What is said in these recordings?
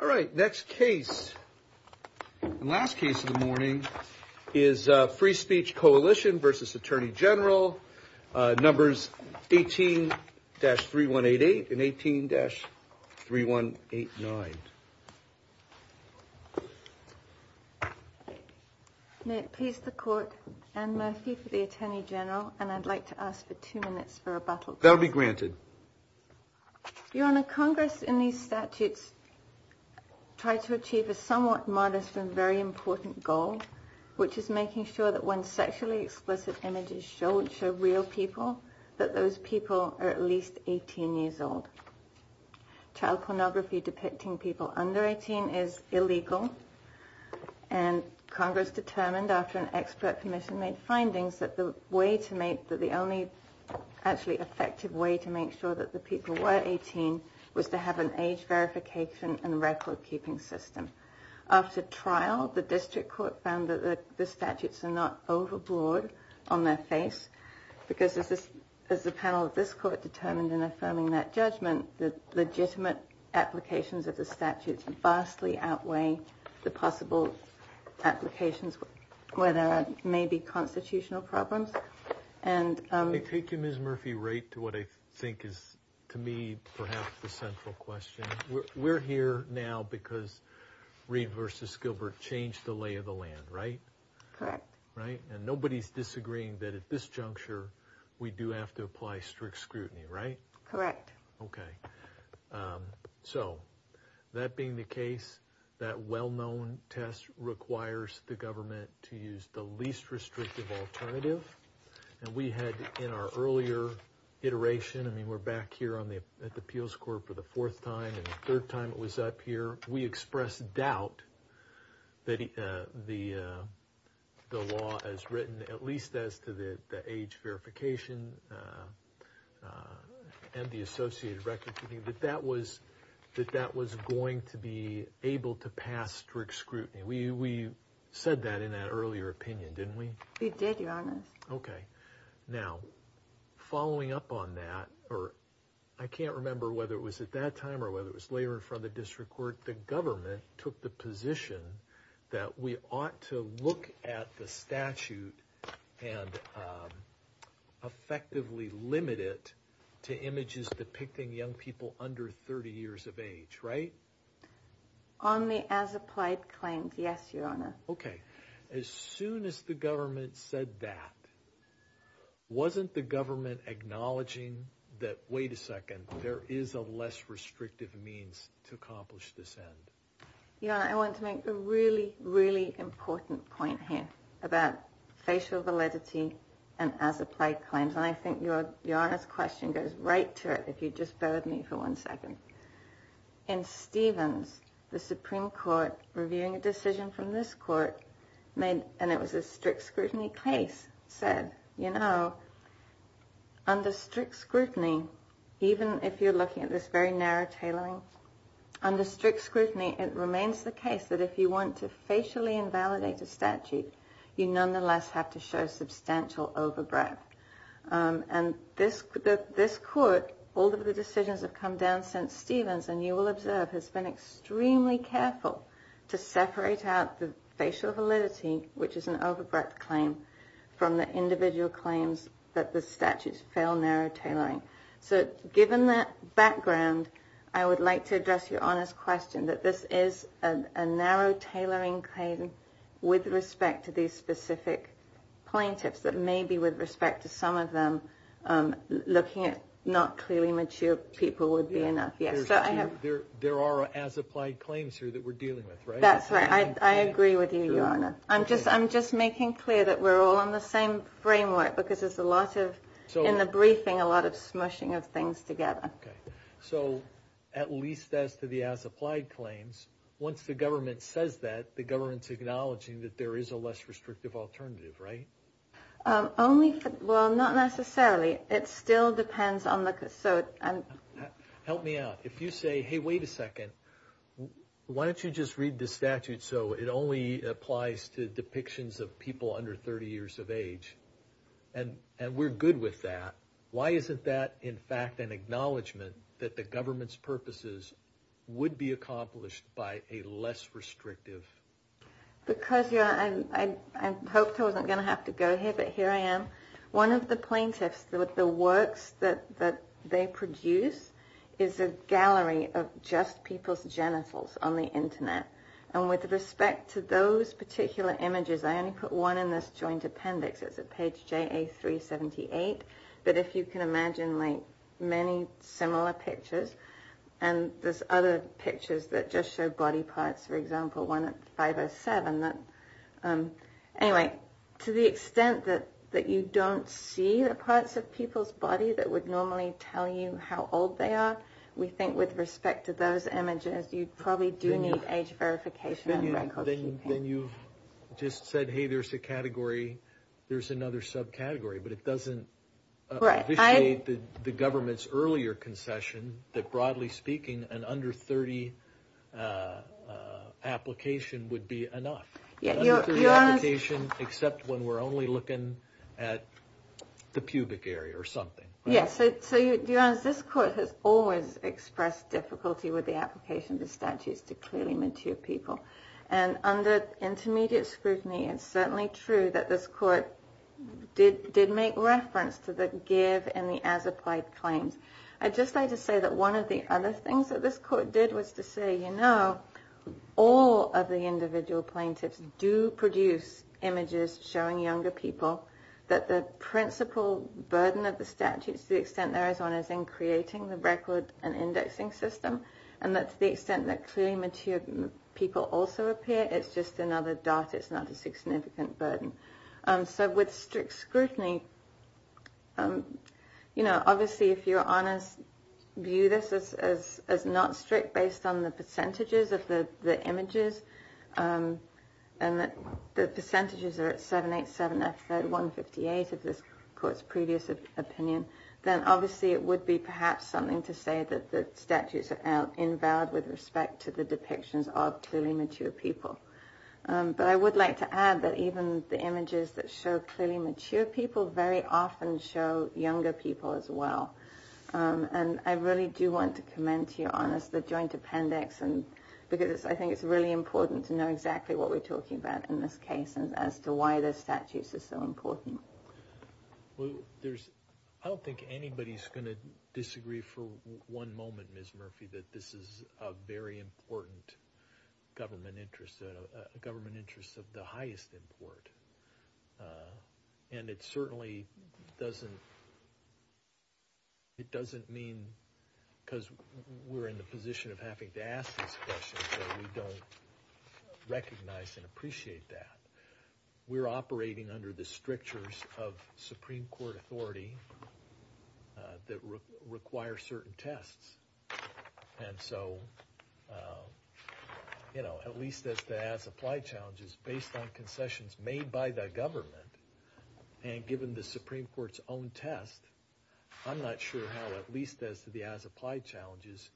All right, next case and last case of the morning is Free Speech Coalition v. Attorney General, numbers 18-3188 and 18-3189. May it please the Court, Anne Murphy for the Attorney General, and I'd like to ask for two minutes for rebuttal. That'll be granted. Your Honor, Congress in these statutes tried to achieve a somewhat modest and very important goal, which is making sure that when sexually explicit images show real people, that those people are at least 18 years old. Child pornography depicting people under 18 is illegal, and Congress determined after an expert commission made findings that the only actually effective way to make sure that the people were 18 was to have an age verification and record keeping system. After trial, the District Court found that the statutes are not overbroad on their face, because as the panel of this Court determined in affirming that judgment, the legitimate applications of the statutes vastly outweigh the possible applications where there may be constitutional problems. Let me take you, Ms. Murphy, right to what I think is, to me, perhaps the central question. We're here now because Reed v. Gilbert changed the lay of the land, right? Correct. Right, and nobody's disagreeing that at this juncture, we do have to apply strict scrutiny, right? Correct. Okay, so that being the case, that well-known test requires the government to use the least restrictive alternative. And we had, in our earlier iteration, I mean, we're back here at the Appeals Court for the fourth time, and the third time it was up here, we expressed doubt that the law as written, at least as to the age verification and the associated record keeping, that that was going to be able to pass strict scrutiny. We said that in that earlier opinion, didn't we? We did, Your Honor. Okay. Now, following up on that, or I can't remember whether it was at that time or whether it was later in front of the District Court, the government took the position that we ought to look at the statute and effectively limit it to images depicting young people under 30 years of age, right? Only as applied claims, yes, Your Honor. Okay. As soon as the government said that, wasn't the government acknowledging that, wait a second, there is a less restrictive means to accomplish this end? Your Honor, I want to make a really, really important point here about facial validity and as applied claims. And I think Your Honor's question goes right to it, if you'd just bear with me for one second. In Stevens, the Supreme Court, reviewing a decision from this court, and it was a strict scrutiny case, said, you know, under strict scrutiny, even if you're looking at this very narrow tailoring, under strict scrutiny, it remains the case that if you want to facially invalidate a statute, you nonetheless have to show substantial overbreadth. And this court, all of the decisions have come down since Stevens, and you will observe, has been extremely careful to separate out the facial validity, which is an overbreadth claim, from the individual claims that the statutes fail narrow tailoring. So given that background, I would like to address Your Honor's question, that this is a narrow tailoring claim with respect to these specific plaintiffs, that maybe with respect to some of them, looking at not clearly mature people would be enough. There are as applied claims here that we're dealing with, right? That's right. I agree with you, Your Honor. I'm just making clear that we're all on the same framework, because there's a lot of, in the briefing, a lot of smushing of things together. Okay. So at least as to the as applied claims, once the government says that, the government's acknowledging that there is a less restrictive alternative, right? Only for, well, not necessarily. It still depends on the, so... Help me out. If you say, hey, wait a second. Why don't you just read the statute so it only applies to depictions of people under 30 years of age? And we're good with that. Why isn't that, in fact, an acknowledgement that the government's purposes would be accomplished by a less restrictive... Because, Your Honor, I hoped I wasn't going to have to go here, but here I am. One of the plaintiffs, the works that they produce is a gallery of just people's genitals on the internet. And with respect to those particular images, I only put one in this joint appendix. It's at page JA378. But if you can imagine, like, many similar pictures, and there's other pictures that just show body parts. For example, one at 507. Anyway, to the extent that you don't see the parts of people's body that would normally tell you how old they are, we think with respect to those images, you probably do need age verification and record keeping. Then you've just said, hey, there's a category, there's another subcategory, but it doesn't officiate the government's earlier concession that, broadly speaking, an under 30 application would be enough. Except when we're only looking at the pubic area or something. Yes, so Your Honor, this court has always expressed difficulty with the application of the statutes to clearly mature people. And under intermediate scrutiny, it's certainly true that this court did make reference to the give and the as applied claims. I'd just like to say that one of the other things that this court did was to say, you know, all of the individual plaintiffs do produce images showing younger people, that the principal burden of the statutes, to the extent there is one, is in creating the record and indexing system. And that to the extent that clearly mature people also appear, it's just another dot, it's not a significant burden. So with strict scrutiny, you know, obviously if Your Honors view this as not strict based on the percentages of the images, and the percentages are at 787F158 of this court's previous opinion, then obviously it would be perhaps something to say that the statutes are invalid with respect to the depictions of clearly mature people. But I would like to add that even the images that show clearly mature people very often show younger people as well. And I really do want to commend to Your Honors the joint appendix, because I think it's really important to know exactly what we're talking about in this case, and as to why the statutes are so important. Well, there's, I don't think anybody's going to disagree for one moment, Ms. Murphy, that this is a very important government interest, a government interest of the highest import. And it certainly doesn't, it doesn't mean, because we're in the position of having to ask these questions that we don't recognize and appreciate that. We're operating under the strictures of Supreme Court authority that require certain tests. And so, you know, at least as to the as-applied challenges, based on concessions made by the government, and given the Supreme Court's own test, I'm not sure how at least as to the as-applied challenges,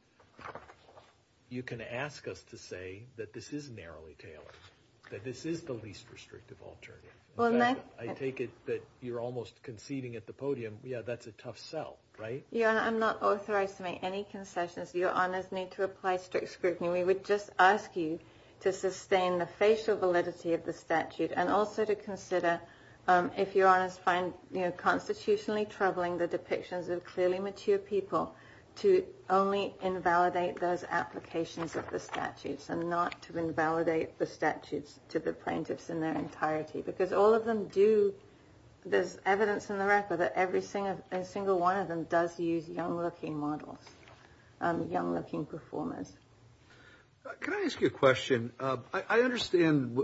you can ask us to say that this is narrowly tailored. That this is the least restrictive alternative. I take it that you're almost conceding at the podium. Yeah, that's a tough sell, right? Your Honor, I'm not authorized to make any concessions. Your Honors need to apply strict scrutiny. We would just ask you to sustain the facial validity of the statute, and also to consider, if Your Honors find constitutionally troubling the depictions of clearly mature people, to only invalidate those applications of the statutes, and not to invalidate the statutes to the plaintiffs in their entirety. Because all of them do, there's evidence in the record that every single one of them does use young-looking models, young-looking performers. Can I ask you a question? I understand,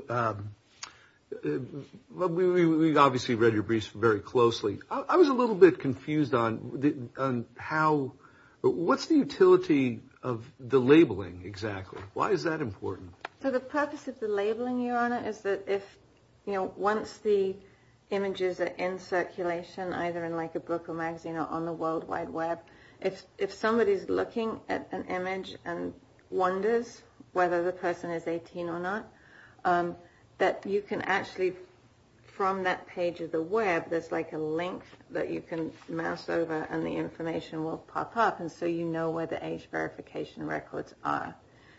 we obviously read your briefs very closely. I was a little bit confused on how, what's the utility of the labeling exactly? Why is that important? So the purpose of the labeling, Your Honor, is that if, you know, once the images are in circulation, either in like a book or magazine or on the World Wide Web, if somebody's looking at an image and wonders whether the person is 18 or not, that you can actually, from that page of the web, there's like a link that you can mouse over and the information will pop up, and so you know where the age verification records are.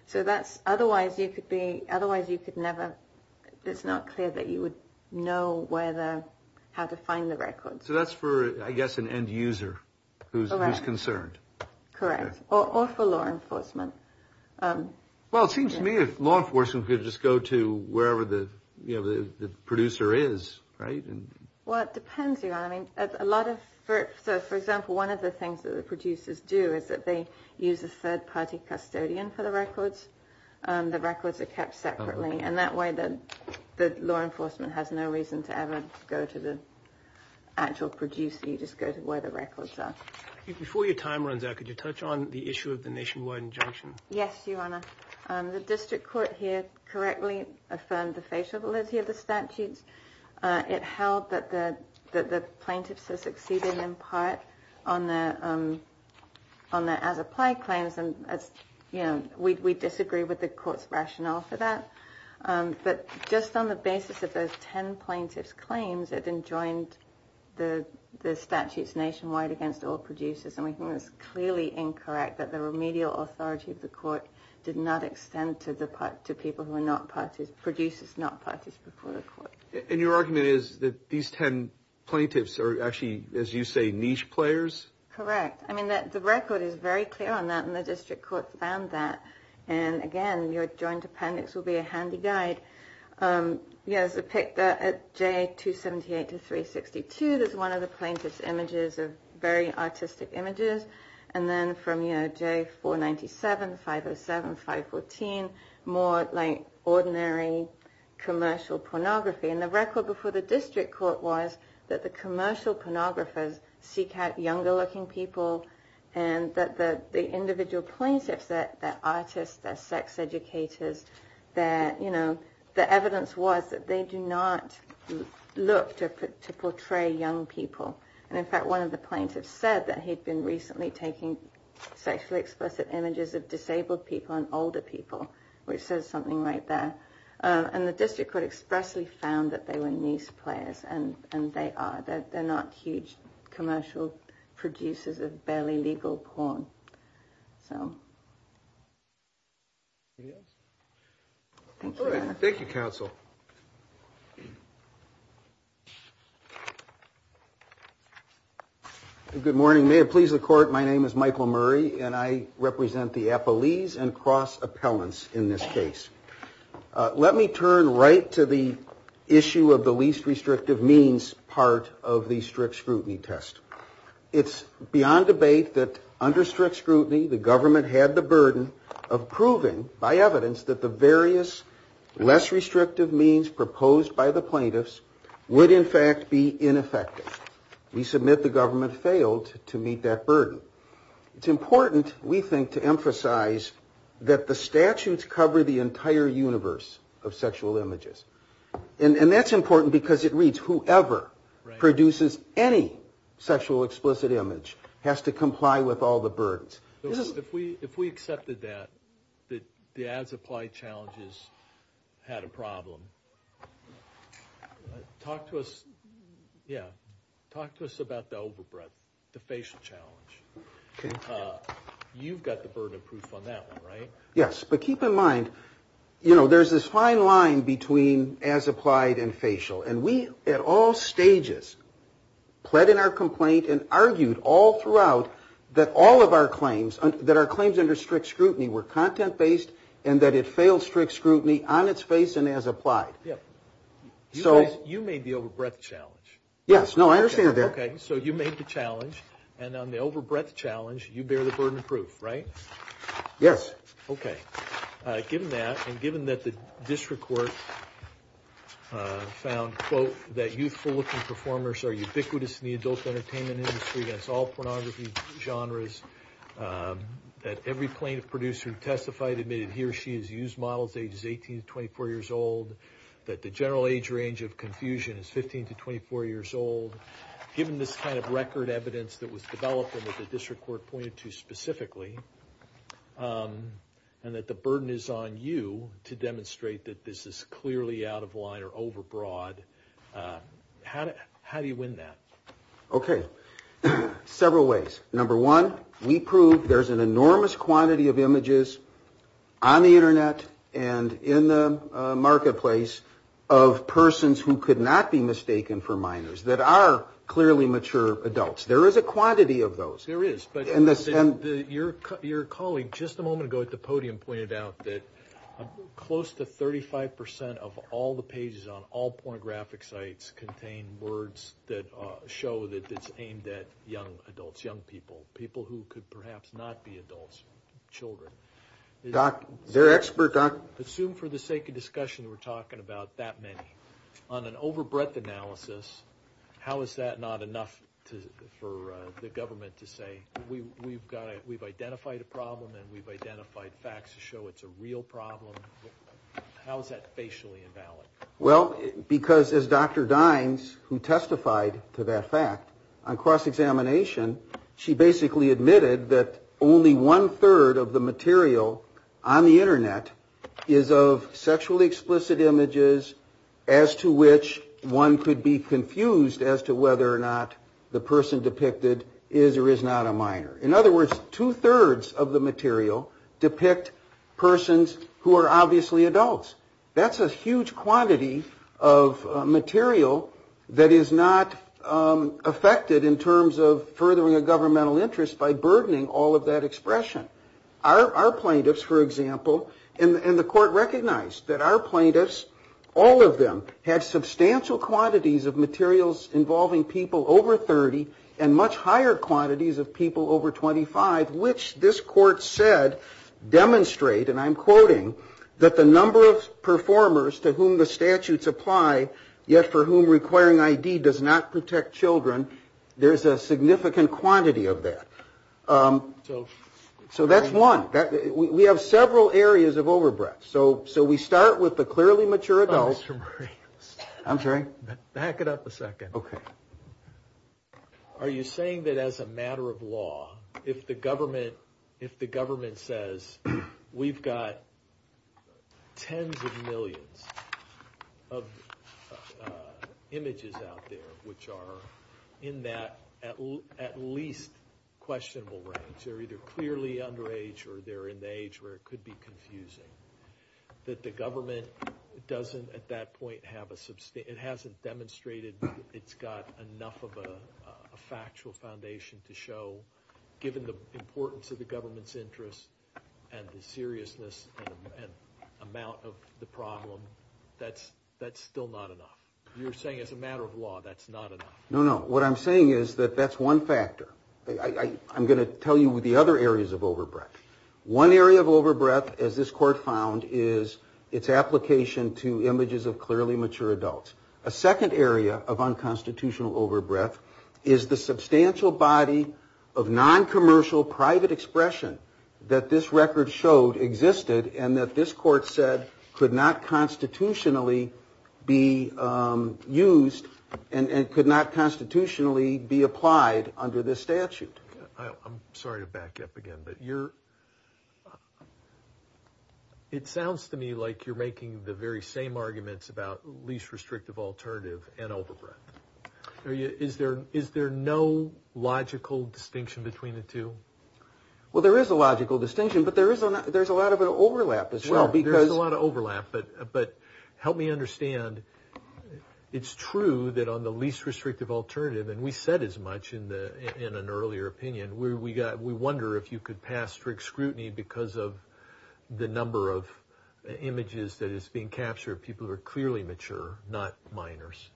So that's, otherwise you could be, otherwise you could never, it's not clear that you would know where the, how to find the records. So that's for, I guess, an end user who's concerned. Correct. Or for law enforcement. Well, it seems to me if law enforcement could just go to wherever the, you know, the producer is, right? Well, it depends, Your Honor. I mean, a lot of, for example, one of the things that the producers do is that they use a third party custodian for the records. The records are kept separately, and that way the law enforcement has no reason to ever go to the actual producer. You just go to where the records are. Before your time runs out, could you touch on the issue of the nationwide injunction? Yes, Your Honor. The district court here correctly affirmed the facial validity of the statutes. It held that the plaintiffs had succeeded in part on their as-applied claims, and as, you know, we disagree with the court's rationale for that. But just on the basis of those ten plaintiffs' claims, it enjoined the statutes nationwide against all producers, and we think it's clearly incorrect that the remedial authority of the court did not extend to people who are not, producers not parties before the court. And your argument is that these ten plaintiffs are actually, as you say, niche players? Correct. I mean, the record is very clear on that, and the district court found that. And again, your joint appendix will be a handy guide. Yes, I picked J278-362. That's one of the plaintiff's images, very artistic images. And then from J497, 507, 514, more like ordinary commercial pornography. And the record before the district court was that the commercial pornographers seek out younger-looking people, and that the individual plaintiffs, their artists, their sex educators, their, you know, the evidence was that they do not look to portray young people. And in fact, one of the plaintiffs said that he'd been recently taking sexually explicit images of disabled people and older people, which says something right there. And the district court expressly found that they were niche players, and they are. They're not huge commercial producers of barely legal porn. Thank you, counsel. Good morning. May it please the court, my name is Michael Murray, and I represent the Appellees and Cross Appellants in this case. Let me turn right to the issue of the least restrictive means part of the strict scrutiny test. It's beyond debate that under strict scrutiny, the government had the burden of proving by evidence that the various less restrictive means proposed by the plaintiffs would in fact be ineffective. We submit the government failed to meet that burden. It's important, we think, to emphasize that the statutes cover the entire universe of sexual images. And that's important because it reads whoever produces any sexual explicit image has to comply with all the burdens. If we accepted that, that the as-applied challenges had a problem, talk to us, yeah, talk to us about the overbreadth, the facial challenge. You've got the burden of proof on that one, right? Yes, but keep in mind, you know, there's this fine line between as-applied and facial. And we at all stages pled in our complaint and argued all throughout that all of our claims, that our claims under strict scrutiny were content-based and that it failed strict scrutiny on its face and as-applied. You made the overbreadth challenge. Yes, no, I understand that. Okay, so you made the challenge. And on the overbreadth challenge, you bear the burden of proof, right? Yes. Okay. Given that, and given that the district court found, quote, that youthful-looking performers are ubiquitous in the adult entertainment industry against all pornography genres, that every plaintiff producer who testified admitted he or she has used models ages 18 to 24 years old, that the general age range of confusion is 15 to 24 years old. Given this kind of record evidence that was developed and that the district court pointed to specifically, and that the burden is on you to demonstrate that this is clearly out of line or overbroad, how do you win that? Okay. Several ways. Number one, we prove there's an enormous quantity of images on the Internet and in the marketplace of persons who could not be mistaken for minors that are clearly mature adults. There is a quantity of those. Yes, there is. But your colleague just a moment ago at the podium pointed out that close to 35% of all the pages on all pornographic sites contain words that show that it's aimed at young adults, young people, people who could perhaps not be adults, children. Doc, they're experts, Doc. Assume for the sake of discussion we're talking about that many. On an overbreadth analysis, how is that not enough for the government to say, we've identified a problem and we've identified facts to show it's a real problem? How is that facially invalid? Well, because as Dr. Dines, who testified to that fact on cross-examination, she basically admitted that only one-third of the material on the Internet is of sexually explicit images as to which one could be confused as to whether or not the person depicted is or is not a minor. In other words, two-thirds of the material depict persons who are obviously adults. That's a huge quantity of material that is not affected in terms of furthering a governmental interest by burdening all of that expression. Our plaintiffs, for example, and the court recognized that our plaintiffs, all of them, have substantial quantities of materials involving people over 30 and much higher quantities of people over 25, which this court said demonstrate, and I'm quoting, that the number of performers to whom the statutes apply, yet for whom requiring ID does not protect children, there's a significant quantity of that. So that's one. We have several areas of overbreadth. So we start with the clearly mature adults. Back it up a second. Okay. of a factual foundation to show, given the importance of the government's interests and the seriousness and amount of the problem, that's still not enough. You're saying as a matter of law that's not enough. No, no. What I'm saying is that that's one factor. I'm going to tell you the other areas of overbreadth. One area of overbreadth, as this court found, is its application to images of clearly mature adults. A second area of unconstitutional overbreadth is the substantial body of noncommercial private expression that this record showed existed and that this court said could not constitutionally be used and could not constitutionally be applied under this statute. I'm sorry to back up again, but it sounds to me like you're making the very same arguments about least restrictive alternative and overbreadth. Is there no logical distinction between the two? Well, there is a logical distinction, but there's a lot of overlap as well. There's a lot of overlap, but help me understand. It's true that on the least restrictive alternative, and we said as much in an earlier opinion, we wonder if you could pass strict scrutiny because of the number of images that is being captured of people who are clearly mature, not minors.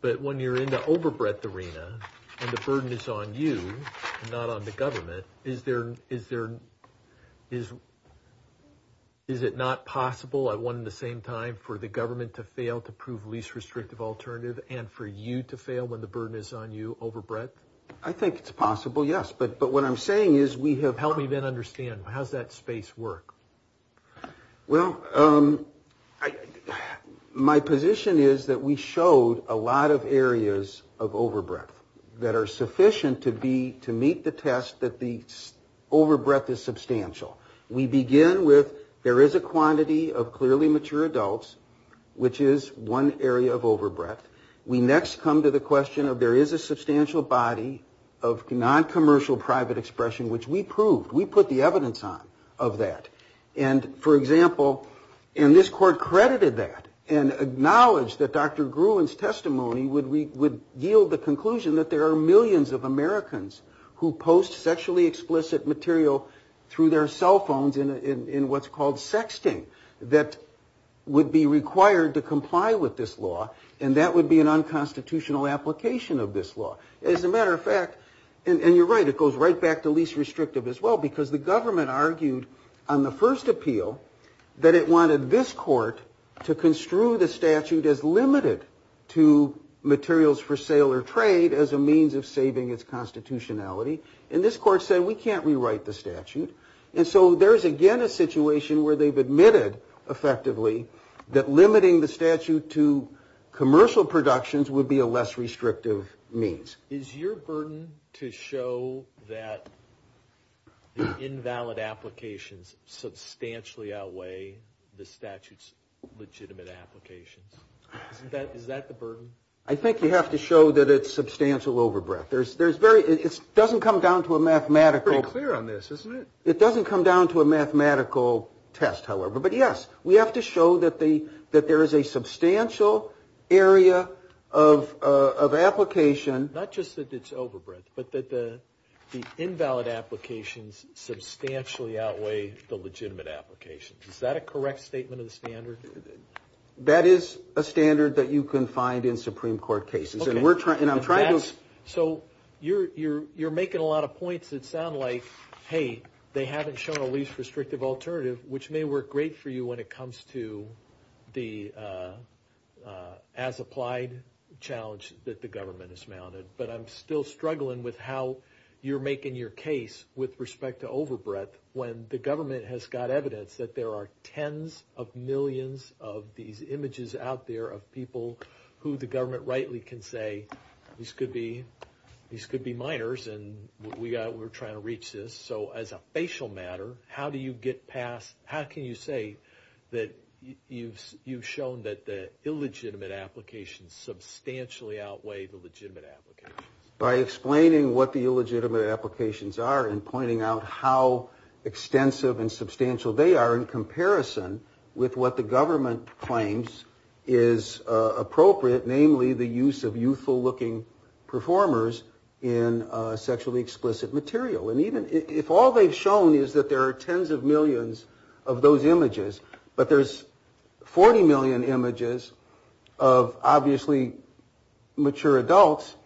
But when you're in the overbreadth arena and the burden is on you, not on the government, is there, is it not possible at one and the same time for the government to fail to prove least restrictive alternative and for you to fail when the burden is on you overbreadth? I think it's possible, yes. But what I'm saying is we have. Help me then understand. How's that space work? Well, my position is that we showed a lot of areas of overbreadth that are sufficient to meet the test that the overbreadth is substantial. We begin with there is a quantity of clearly mature adults, which is one area of overbreadth. We next come to the question of there is a substantial body of noncommercial private expression, which we proved. We put the evidence on of that. And for example, and this court credited that and acknowledged that Dr. Gruen's testimony would yield the conclusion that there are millions of Americans who post sexually explicit material through their cell phones in what's called sexting that would be required to comply with this law. And that would be an unconstitutional application of this law. As a matter of fact, and you're right, it goes right back to least restrictive as well, because the government argued on the first appeal that it wanted this court to construe the statute as limited to materials for sale or trade as a means of saving its constitutionality. And this court said we can't rewrite the statute. And so there's again a situation where they've admitted effectively that limiting the statute to commercial productions would be a less restrictive means. Is your burden to show that the invalid applications substantially outweigh the statute's legitimate applications? Is that the burden? I think you have to show that it's substantial overbreadth. There's very, it doesn't come down to a mathematical. It's pretty clear on this, isn't it? It doesn't come down to a mathematical test, however. But yes, we have to show that there is a substantial area of application. Not just that it's overbreadth, but that the invalid applications substantially outweigh the legitimate applications. Is that a correct statement of the standard? That is a standard that you can find in Supreme Court cases. Okay. And I'm trying to... So you're making a lot of points that sound like, hey, they haven't shown a least restrictive alternative, which may work great for you when it comes to the as-applied challenge that the government has mounted. But I'm still struggling with how you're making your case with respect to overbreadth when the government has got evidence that there are tens of millions of these images out there of people who the government rightly can say, these could be minors, and we're trying to reach this. So as a facial matter, how do you get past, how can you say that you've shown that the illegitimate applications substantially outweigh the legitimate applications? By explaining what the illegitimate applications are and pointing out how extensive and substantial they are in comparison with what the government claims is appropriate, namely the use of youthful-looking performers in sexually explicit material. And even if all they've shown is that there are tens of millions of those images, but there's 40 million images of obviously mature adults,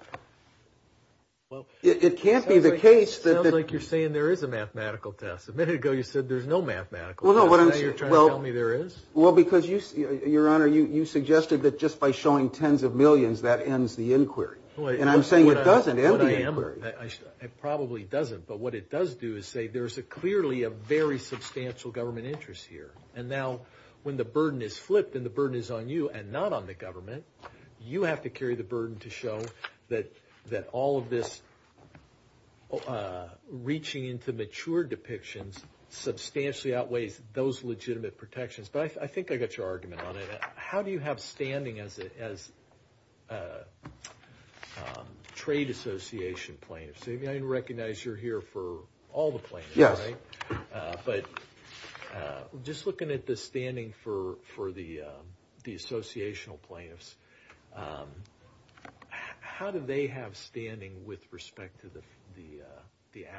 it can't be the case that... Sounds like you're saying there is a mathematical test. A minute ago you said there's no mathematical test. Is that how you're trying to tell me there is? Well, because, Your Honor, you suggested that just by showing tens of millions, that ends the inquiry. And I'm saying it doesn't end the inquiry. It probably doesn't. But what it does do is say there's clearly a very substantial government interest here. And now when the burden is flipped and the burden is on you and not on the government, you have to carry the burden to show that all of this reaching into mature depictions substantially outweighs those legitimate protections. But I think I got your argument on it. How do you have standing as trade association plaintiffs? I mean, I recognize you're here for all the plaintiffs, right? Yes. But just looking at the standing for the associational plaintiffs, how do they have standing with respect to the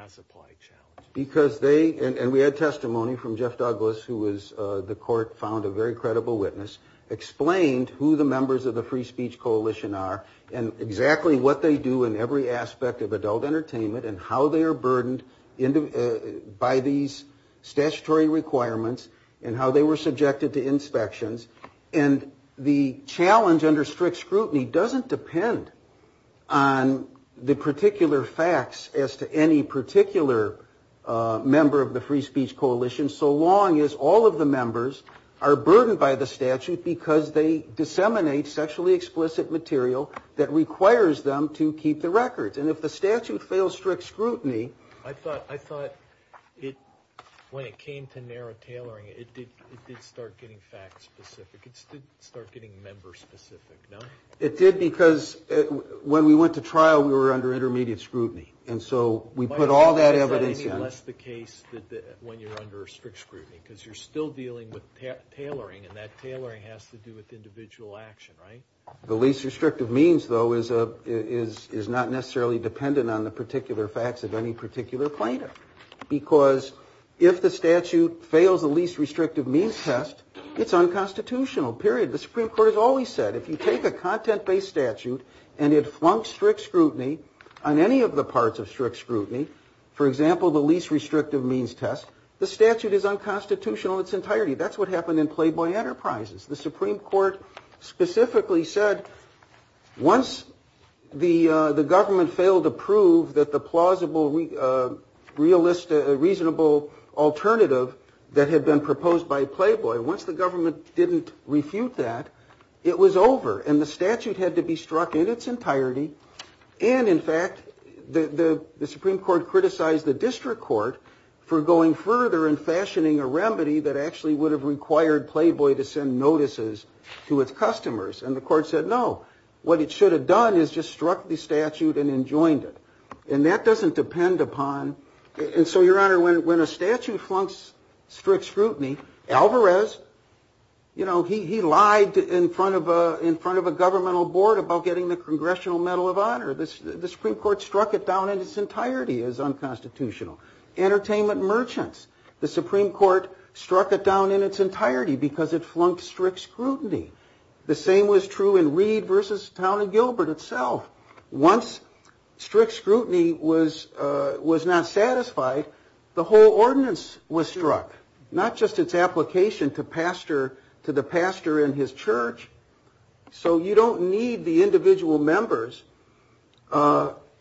as-applied challenge? Because they, and we had testimony from Jeff Douglas, who was, the court found a very credible witness, explained who the members of the Free Speech Coalition are and exactly what they do in every aspect of adult entertainment and how they are burdened by these statutory requirements and how they were subjected to inspections. And the challenge under strict scrutiny doesn't depend on the particular facts as to any particular member of the Free Speech Coalition so long as all of the members are burdened by the statute because they disseminate sexually explicit material that requires them to keep the records. And if the statute fails strict scrutiny... I thought when it came to narrow tailoring, it did start getting fact-specific. It did start getting member-specific, no? It did because when we went to trial, we were under intermediate scrutiny. And so we put all that evidence in. Is that any less the case when you're under strict scrutiny? Because you're still dealing with tailoring and that tailoring has to do with individual action, right? The least restrictive means, though, is not necessarily dependent on the particular facts of any particular plaintiff because if the statute fails the least restrictive means test, it's unconstitutional, period. The Supreme Court has always said if you take a content-based statute and it flunks strict scrutiny on any of the parts of strict scrutiny, for example, the least restrictive means test, the statute is unconstitutional in its entirety. That's what happened in Playboy Enterprises. The Supreme Court specifically said once the government failed to prove that the plausible, reasonable alternative that had been proposed by Playboy, once the government didn't refute that, it was over. And the statute had to be struck in its entirety. And, in fact, the Supreme Court criticized the district court for going further and fashioning a remedy that actually would have required Playboy to send notices to its customers. And the court said, no, what it should have done is just struck the statute and enjoined it. And that doesn't depend upon... And so, Your Honor, when a statute flunks strict scrutiny, Alvarez, you know, he lied in front of a governmental board about getting the Congressional Medal of Honor. The Supreme Court struck it down in its entirety as unconstitutional. Entertainment merchants. The Supreme Court struck it down in its entirety because it flunked strict scrutiny. The same was true in Reed v. Town & Gilbert itself. Once strict scrutiny was not satisfied, the whole ordinance was struck, not just its application to the pastor in his church. So you don't need the individual members.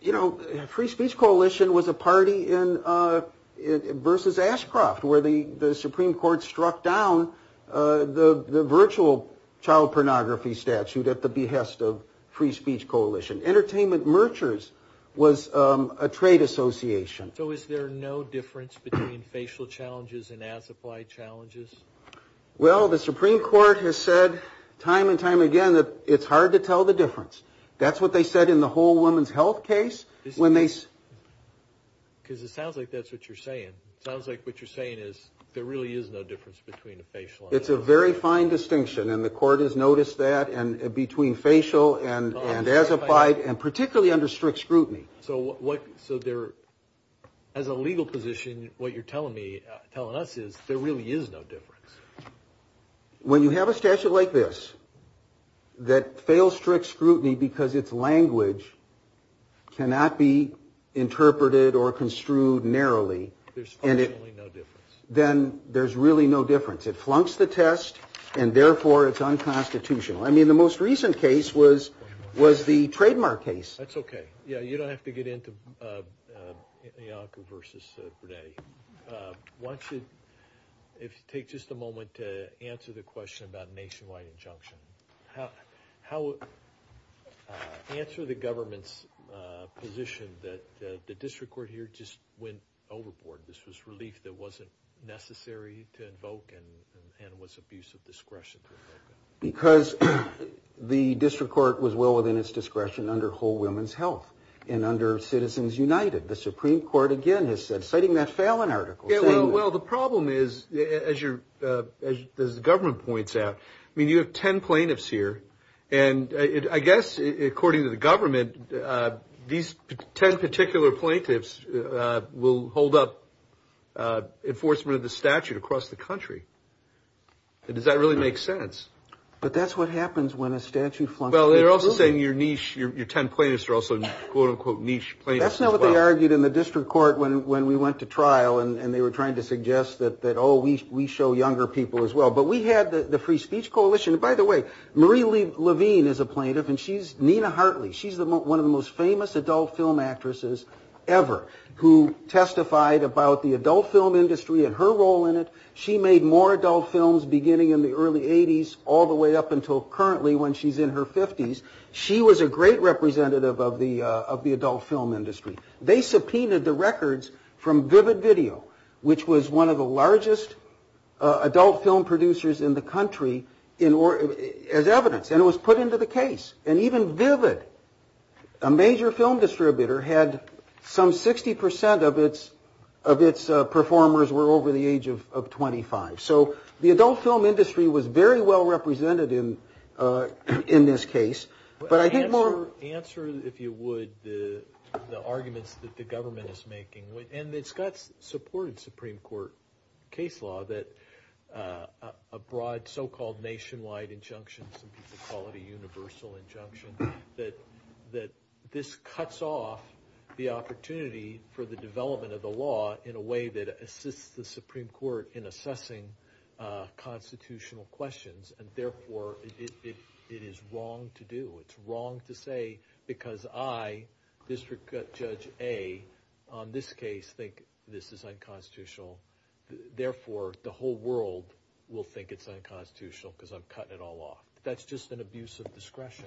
You know, Free Speech Coalition was a party versus Ashcroft, where the Supreme Court struck down the virtual child pornography statute at the behest of Free Speech Coalition. Entertainment merchants was a trade association. So is there no difference between facial challenges and as-applied challenges? Well, the Supreme Court has said time and time again that it's hard to tell the difference. That's what they said in the whole women's health case. Because it sounds like that's what you're saying. It sounds like what you're saying is there really is no difference between a facial and an as-applied. And particularly under strict scrutiny. So as a legal position, what you're telling us is there really is no difference. When you have a statute like this that fails strict scrutiny because its language cannot be interpreted or construed narrowly, then there's really no difference. It flunks the test, and therefore it's unconstitutional. I mean, the most recent case was the Trademark case. That's okay. You don't have to get into Bianca versus Bernetti. Why don't you take just a moment to answer the question about a nationwide injunction. Answer the government's position that the district court here just went overboard. This was relief that wasn't necessary to invoke and was abuse of discretion. Because the district court was well within its discretion under whole women's health and under Citizens United. The Supreme Court again has said, citing that Fallon article. Well, the problem is, as the government points out, I mean, you have ten plaintiffs here, and I guess according to the government, these ten particular plaintiffs will hold up enforcement of the statute across the country. Does that really make sense? But that's what happens when a statute flunks. Well, they're also saying your ten plaintiffs are also quote-unquote niche plaintiffs as well. We argued in the district court when we went to trial, and they were trying to suggest that, oh, we show younger people as well. But we had the Free Speech Coalition. By the way, Marie Levine is a plaintiff, and she's Nina Hartley. She's one of the most famous adult film actresses ever who testified about the adult film industry and her role in it. She made more adult films beginning in the early 80s all the way up until currently when she's in her 50s. She was a great representative of the adult film industry. They subpoenaed the records from Vivid Video, which was one of the largest adult film producers in the country, as evidence, and it was put into the case. And even Vivid, a major film distributor, had some 60% of its performers were over the age of 25. So the adult film industry was very well represented in this case. Answer, if you would, the arguments that the government is making. And it's got support in Supreme Court case law that a broad so-called nationwide injunction, some people call it a universal injunction, that this cuts off the opportunity for the development of the law in a way that assists the Supreme Court in assessing constitutional questions. And therefore, it is wrong to do. It's wrong to say, because I, District Judge A, on this case, think this is unconstitutional. Therefore, the whole world will think it's unconstitutional because I'm cutting it all off. That's just an abuse of discretion.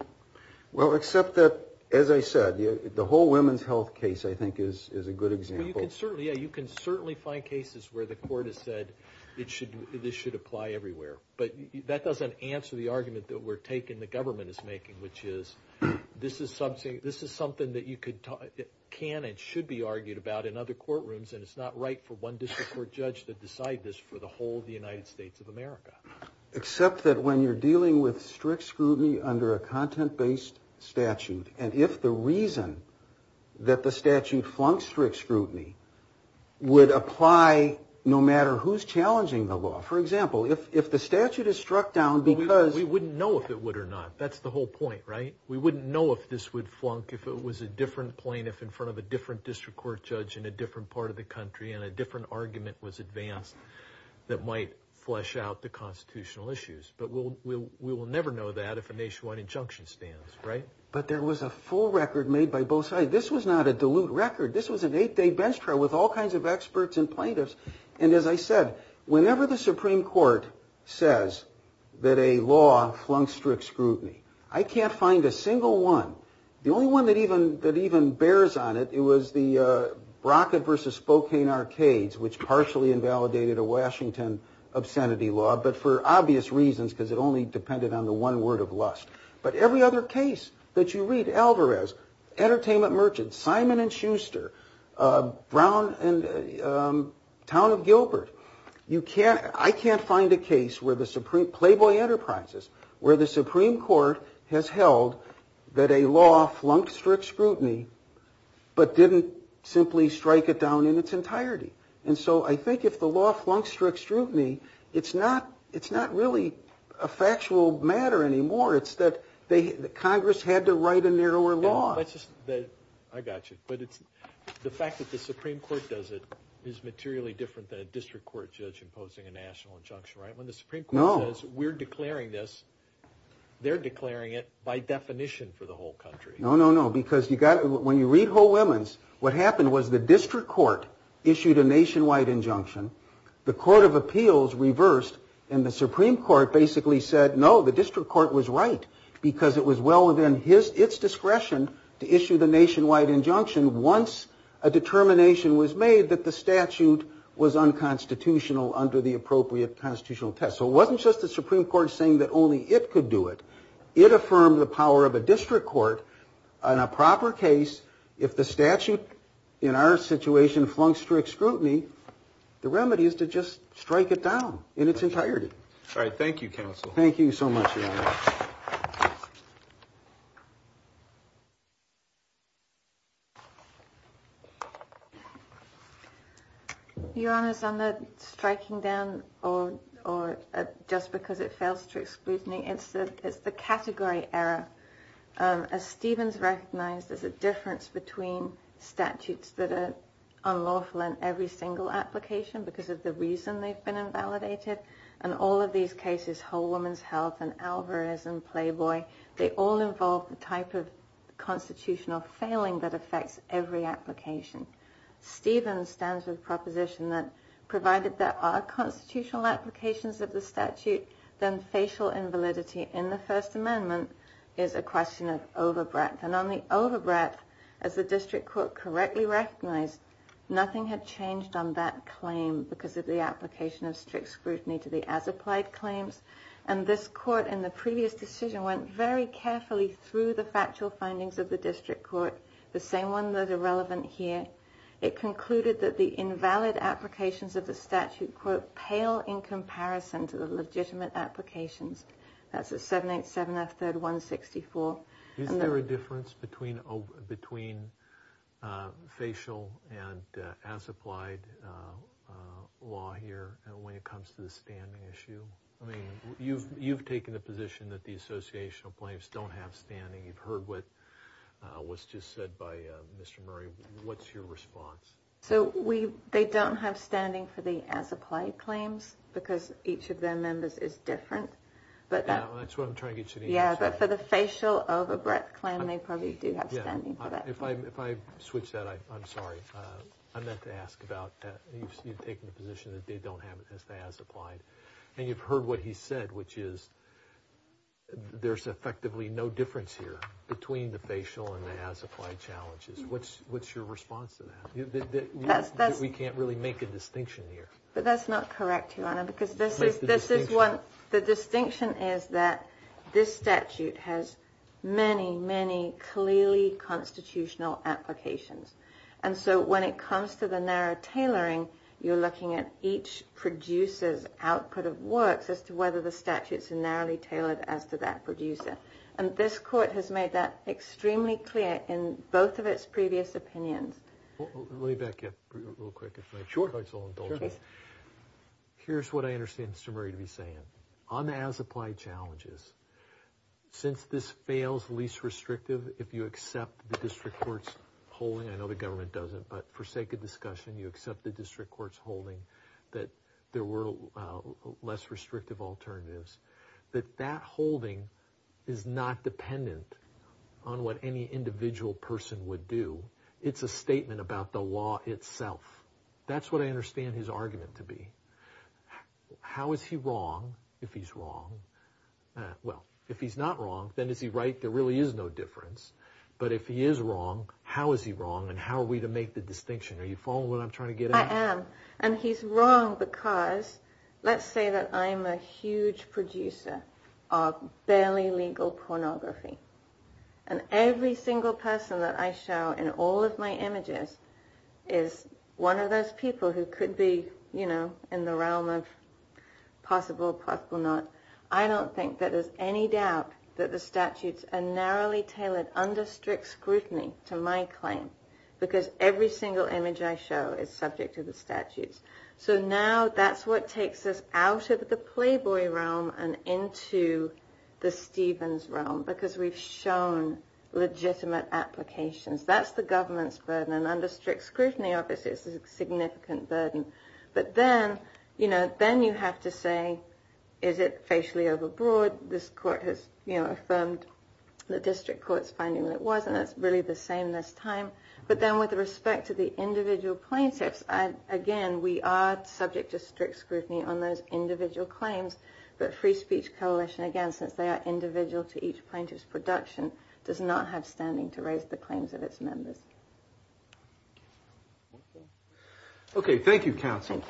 Well, except that, as I said, the whole women's health case, I think, is a good example. Yeah, you can certainly find cases where the court has said this should apply everywhere. But that doesn't answer the argument that we're taking, the government is making, which is this is something that you can and should be argued about in other courtrooms, and it's not right for one district court judge to decide this for the whole of the United States of America. Except that when you're dealing with strict scrutiny under a content-based statute, and if the reason that the statute flunked strict scrutiny would apply no matter who's challenging the law. For example, if the statute is struck down because... But there was a full record made by both sides. This was not a dilute record. This was an eight-day bench trial with all kinds of experts and plaintiffs. And as I said, whenever the Supreme Court says that a law flunked strict scrutiny, I can't find a single one. The only one that even bears on it, it was the Brockett versus Spokane arcades, which partially invalidated a Washington obscenity law, but for obvious reasons, because it only depended on the one word of lust. But every other case that you read, Alvarez, Entertainment Merchants, Simon & Schuster, Brown and Town of Gilbert, you can't... Playboy Enterprises, where the Supreme Court has held that a law flunked strict scrutiny, but didn't simply strike it down in its entirety. And so I think if the law flunked strict scrutiny, it's not really a factual matter anymore. It's that Congress had to write a narrower law. I got you. But the fact that the Supreme Court does it is materially different than a district court judge imposing a national injunction, right? When the Supreme Court says, we're declaring this, they're declaring it by definition for the whole country. No, no, no. Because when you read Ho Women's, what happened was the district court issued a nationwide injunction. The Court of Appeals reversed, and the Supreme Court basically said, no, the district court was right, because it was well within its discretion to issue the nationwide injunction once a determination was made that the statute was unconstitutional under the appropriate constitutional test. So it wasn't just the Supreme Court saying that only it could do it. It affirmed the power of a district court on a proper case. If the statute in our situation flunked strict scrutiny, the remedy is to just strike it down in its entirety. All right. Thank you, counsel. Thank you so much, Your Honor. Your Honor, on the striking down or just because it fails strict scrutiny, it's the category error. As Stevens recognized, there's a difference between statutes that are unlawful in every single application because of the reason they've been invalidated. And all of these cases, Ho Women's Health and Alvarez and Playboy, they all involve the type of constitutional failing that affects every application. Stevens stands with the proposition that provided there are constitutional applications of the statute, then facial invalidity in the First Amendment is a question of over breadth. And on the over breadth, as the district court correctly recognized, nothing had changed on that claim because of the application of strict scrutiny to the as applied claims. And this court in the previous decision went very carefully through the factual findings of the district court, the same one that are relevant here. It concluded that the invalid applications of the statute were pale in comparison to the legitimate applications. That's a seven, eight, seven, a third one. Sixty four. Is there a difference between between facial and as applied law here? And when it comes to the standing issue, I mean, you've you've taken the position that the associational claims don't have standing. You've heard what was just said by Mr. Murray. What's your response? So we they don't have standing for the as applied claims because each of their members is different. But that's what I'm trying to get. Yeah. But for the facial over breadth claim, they probably do have standing. If I if I switch that, I'm sorry. I meant to ask about that. You've taken the position that they don't have it as they as applied. And you've heard what he said, which is there's effectively no difference here between the facial and as applied challenges. What's what's your response to that? That's that's we can't really make a distinction here. But that's not correct. Because this is this is what the distinction is, that this statute has many, many clearly constitutional applications. And so when it comes to the narrow tailoring, you're looking at each producer's output of works as to whether the statutes are narrowly tailored as to that producer. And this court has made that extremely clear in both of its previous opinions. Let me back up real quick. Sure. Here's what I understand Mr. Murray to be saying on the as applied challenges. Since this fails least restrictive, if you accept the district court's holding, I know the government doesn't. But for sake of discussion, you accept the district court's holding that there were less restrictive alternatives that that holding is not dependent on what any individual person would do. It's a statement about the law itself. That's what I understand his argument to be. How is he wrong if he's wrong? Well, if he's not wrong, then is he right? There really is no difference. But if he is wrong, how is he wrong and how are we to make the distinction? Are you following what I'm trying to get at? And he's wrong because let's say that I'm a huge producer of barely legal pornography. And every single person that I show in all of my images is one of those people who could be, you know, in the realm of possible, possible not. I don't think that there's any doubt that the statutes are narrowly tailored under strict scrutiny to my claim because every single image I show is subject to the statutes. So now that's what takes us out of the Playboy realm and into the Stevens realm because we've shown legitimate applications. That's the government's burden. And under strict scrutiny, obviously, it's a significant burden. But then, you know, then you have to say, is it facially overbroad? This court has affirmed the district court's finding that it wasn't. It's really the same this time. But then with respect to the individual plaintiffs, again, we are subject to strict scrutiny on those individual claims. But Free Speech Coalition, again, since they are individual to each plaintiff's production, does not have standing to raise the claims of its members. OK, thank you, counsel.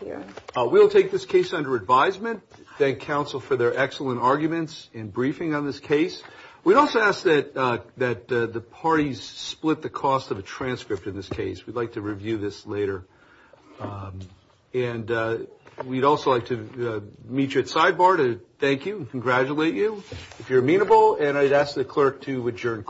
We'll take this case under advisement. Thank counsel for their excellent arguments in briefing on this case. We'd also ask that the parties split the cost of a transcript in this case. We'd like to review this later. And we'd also like to meet you at sidebar to thank you and congratulate you if you're amenable. And I'd ask the clerk to adjourn court.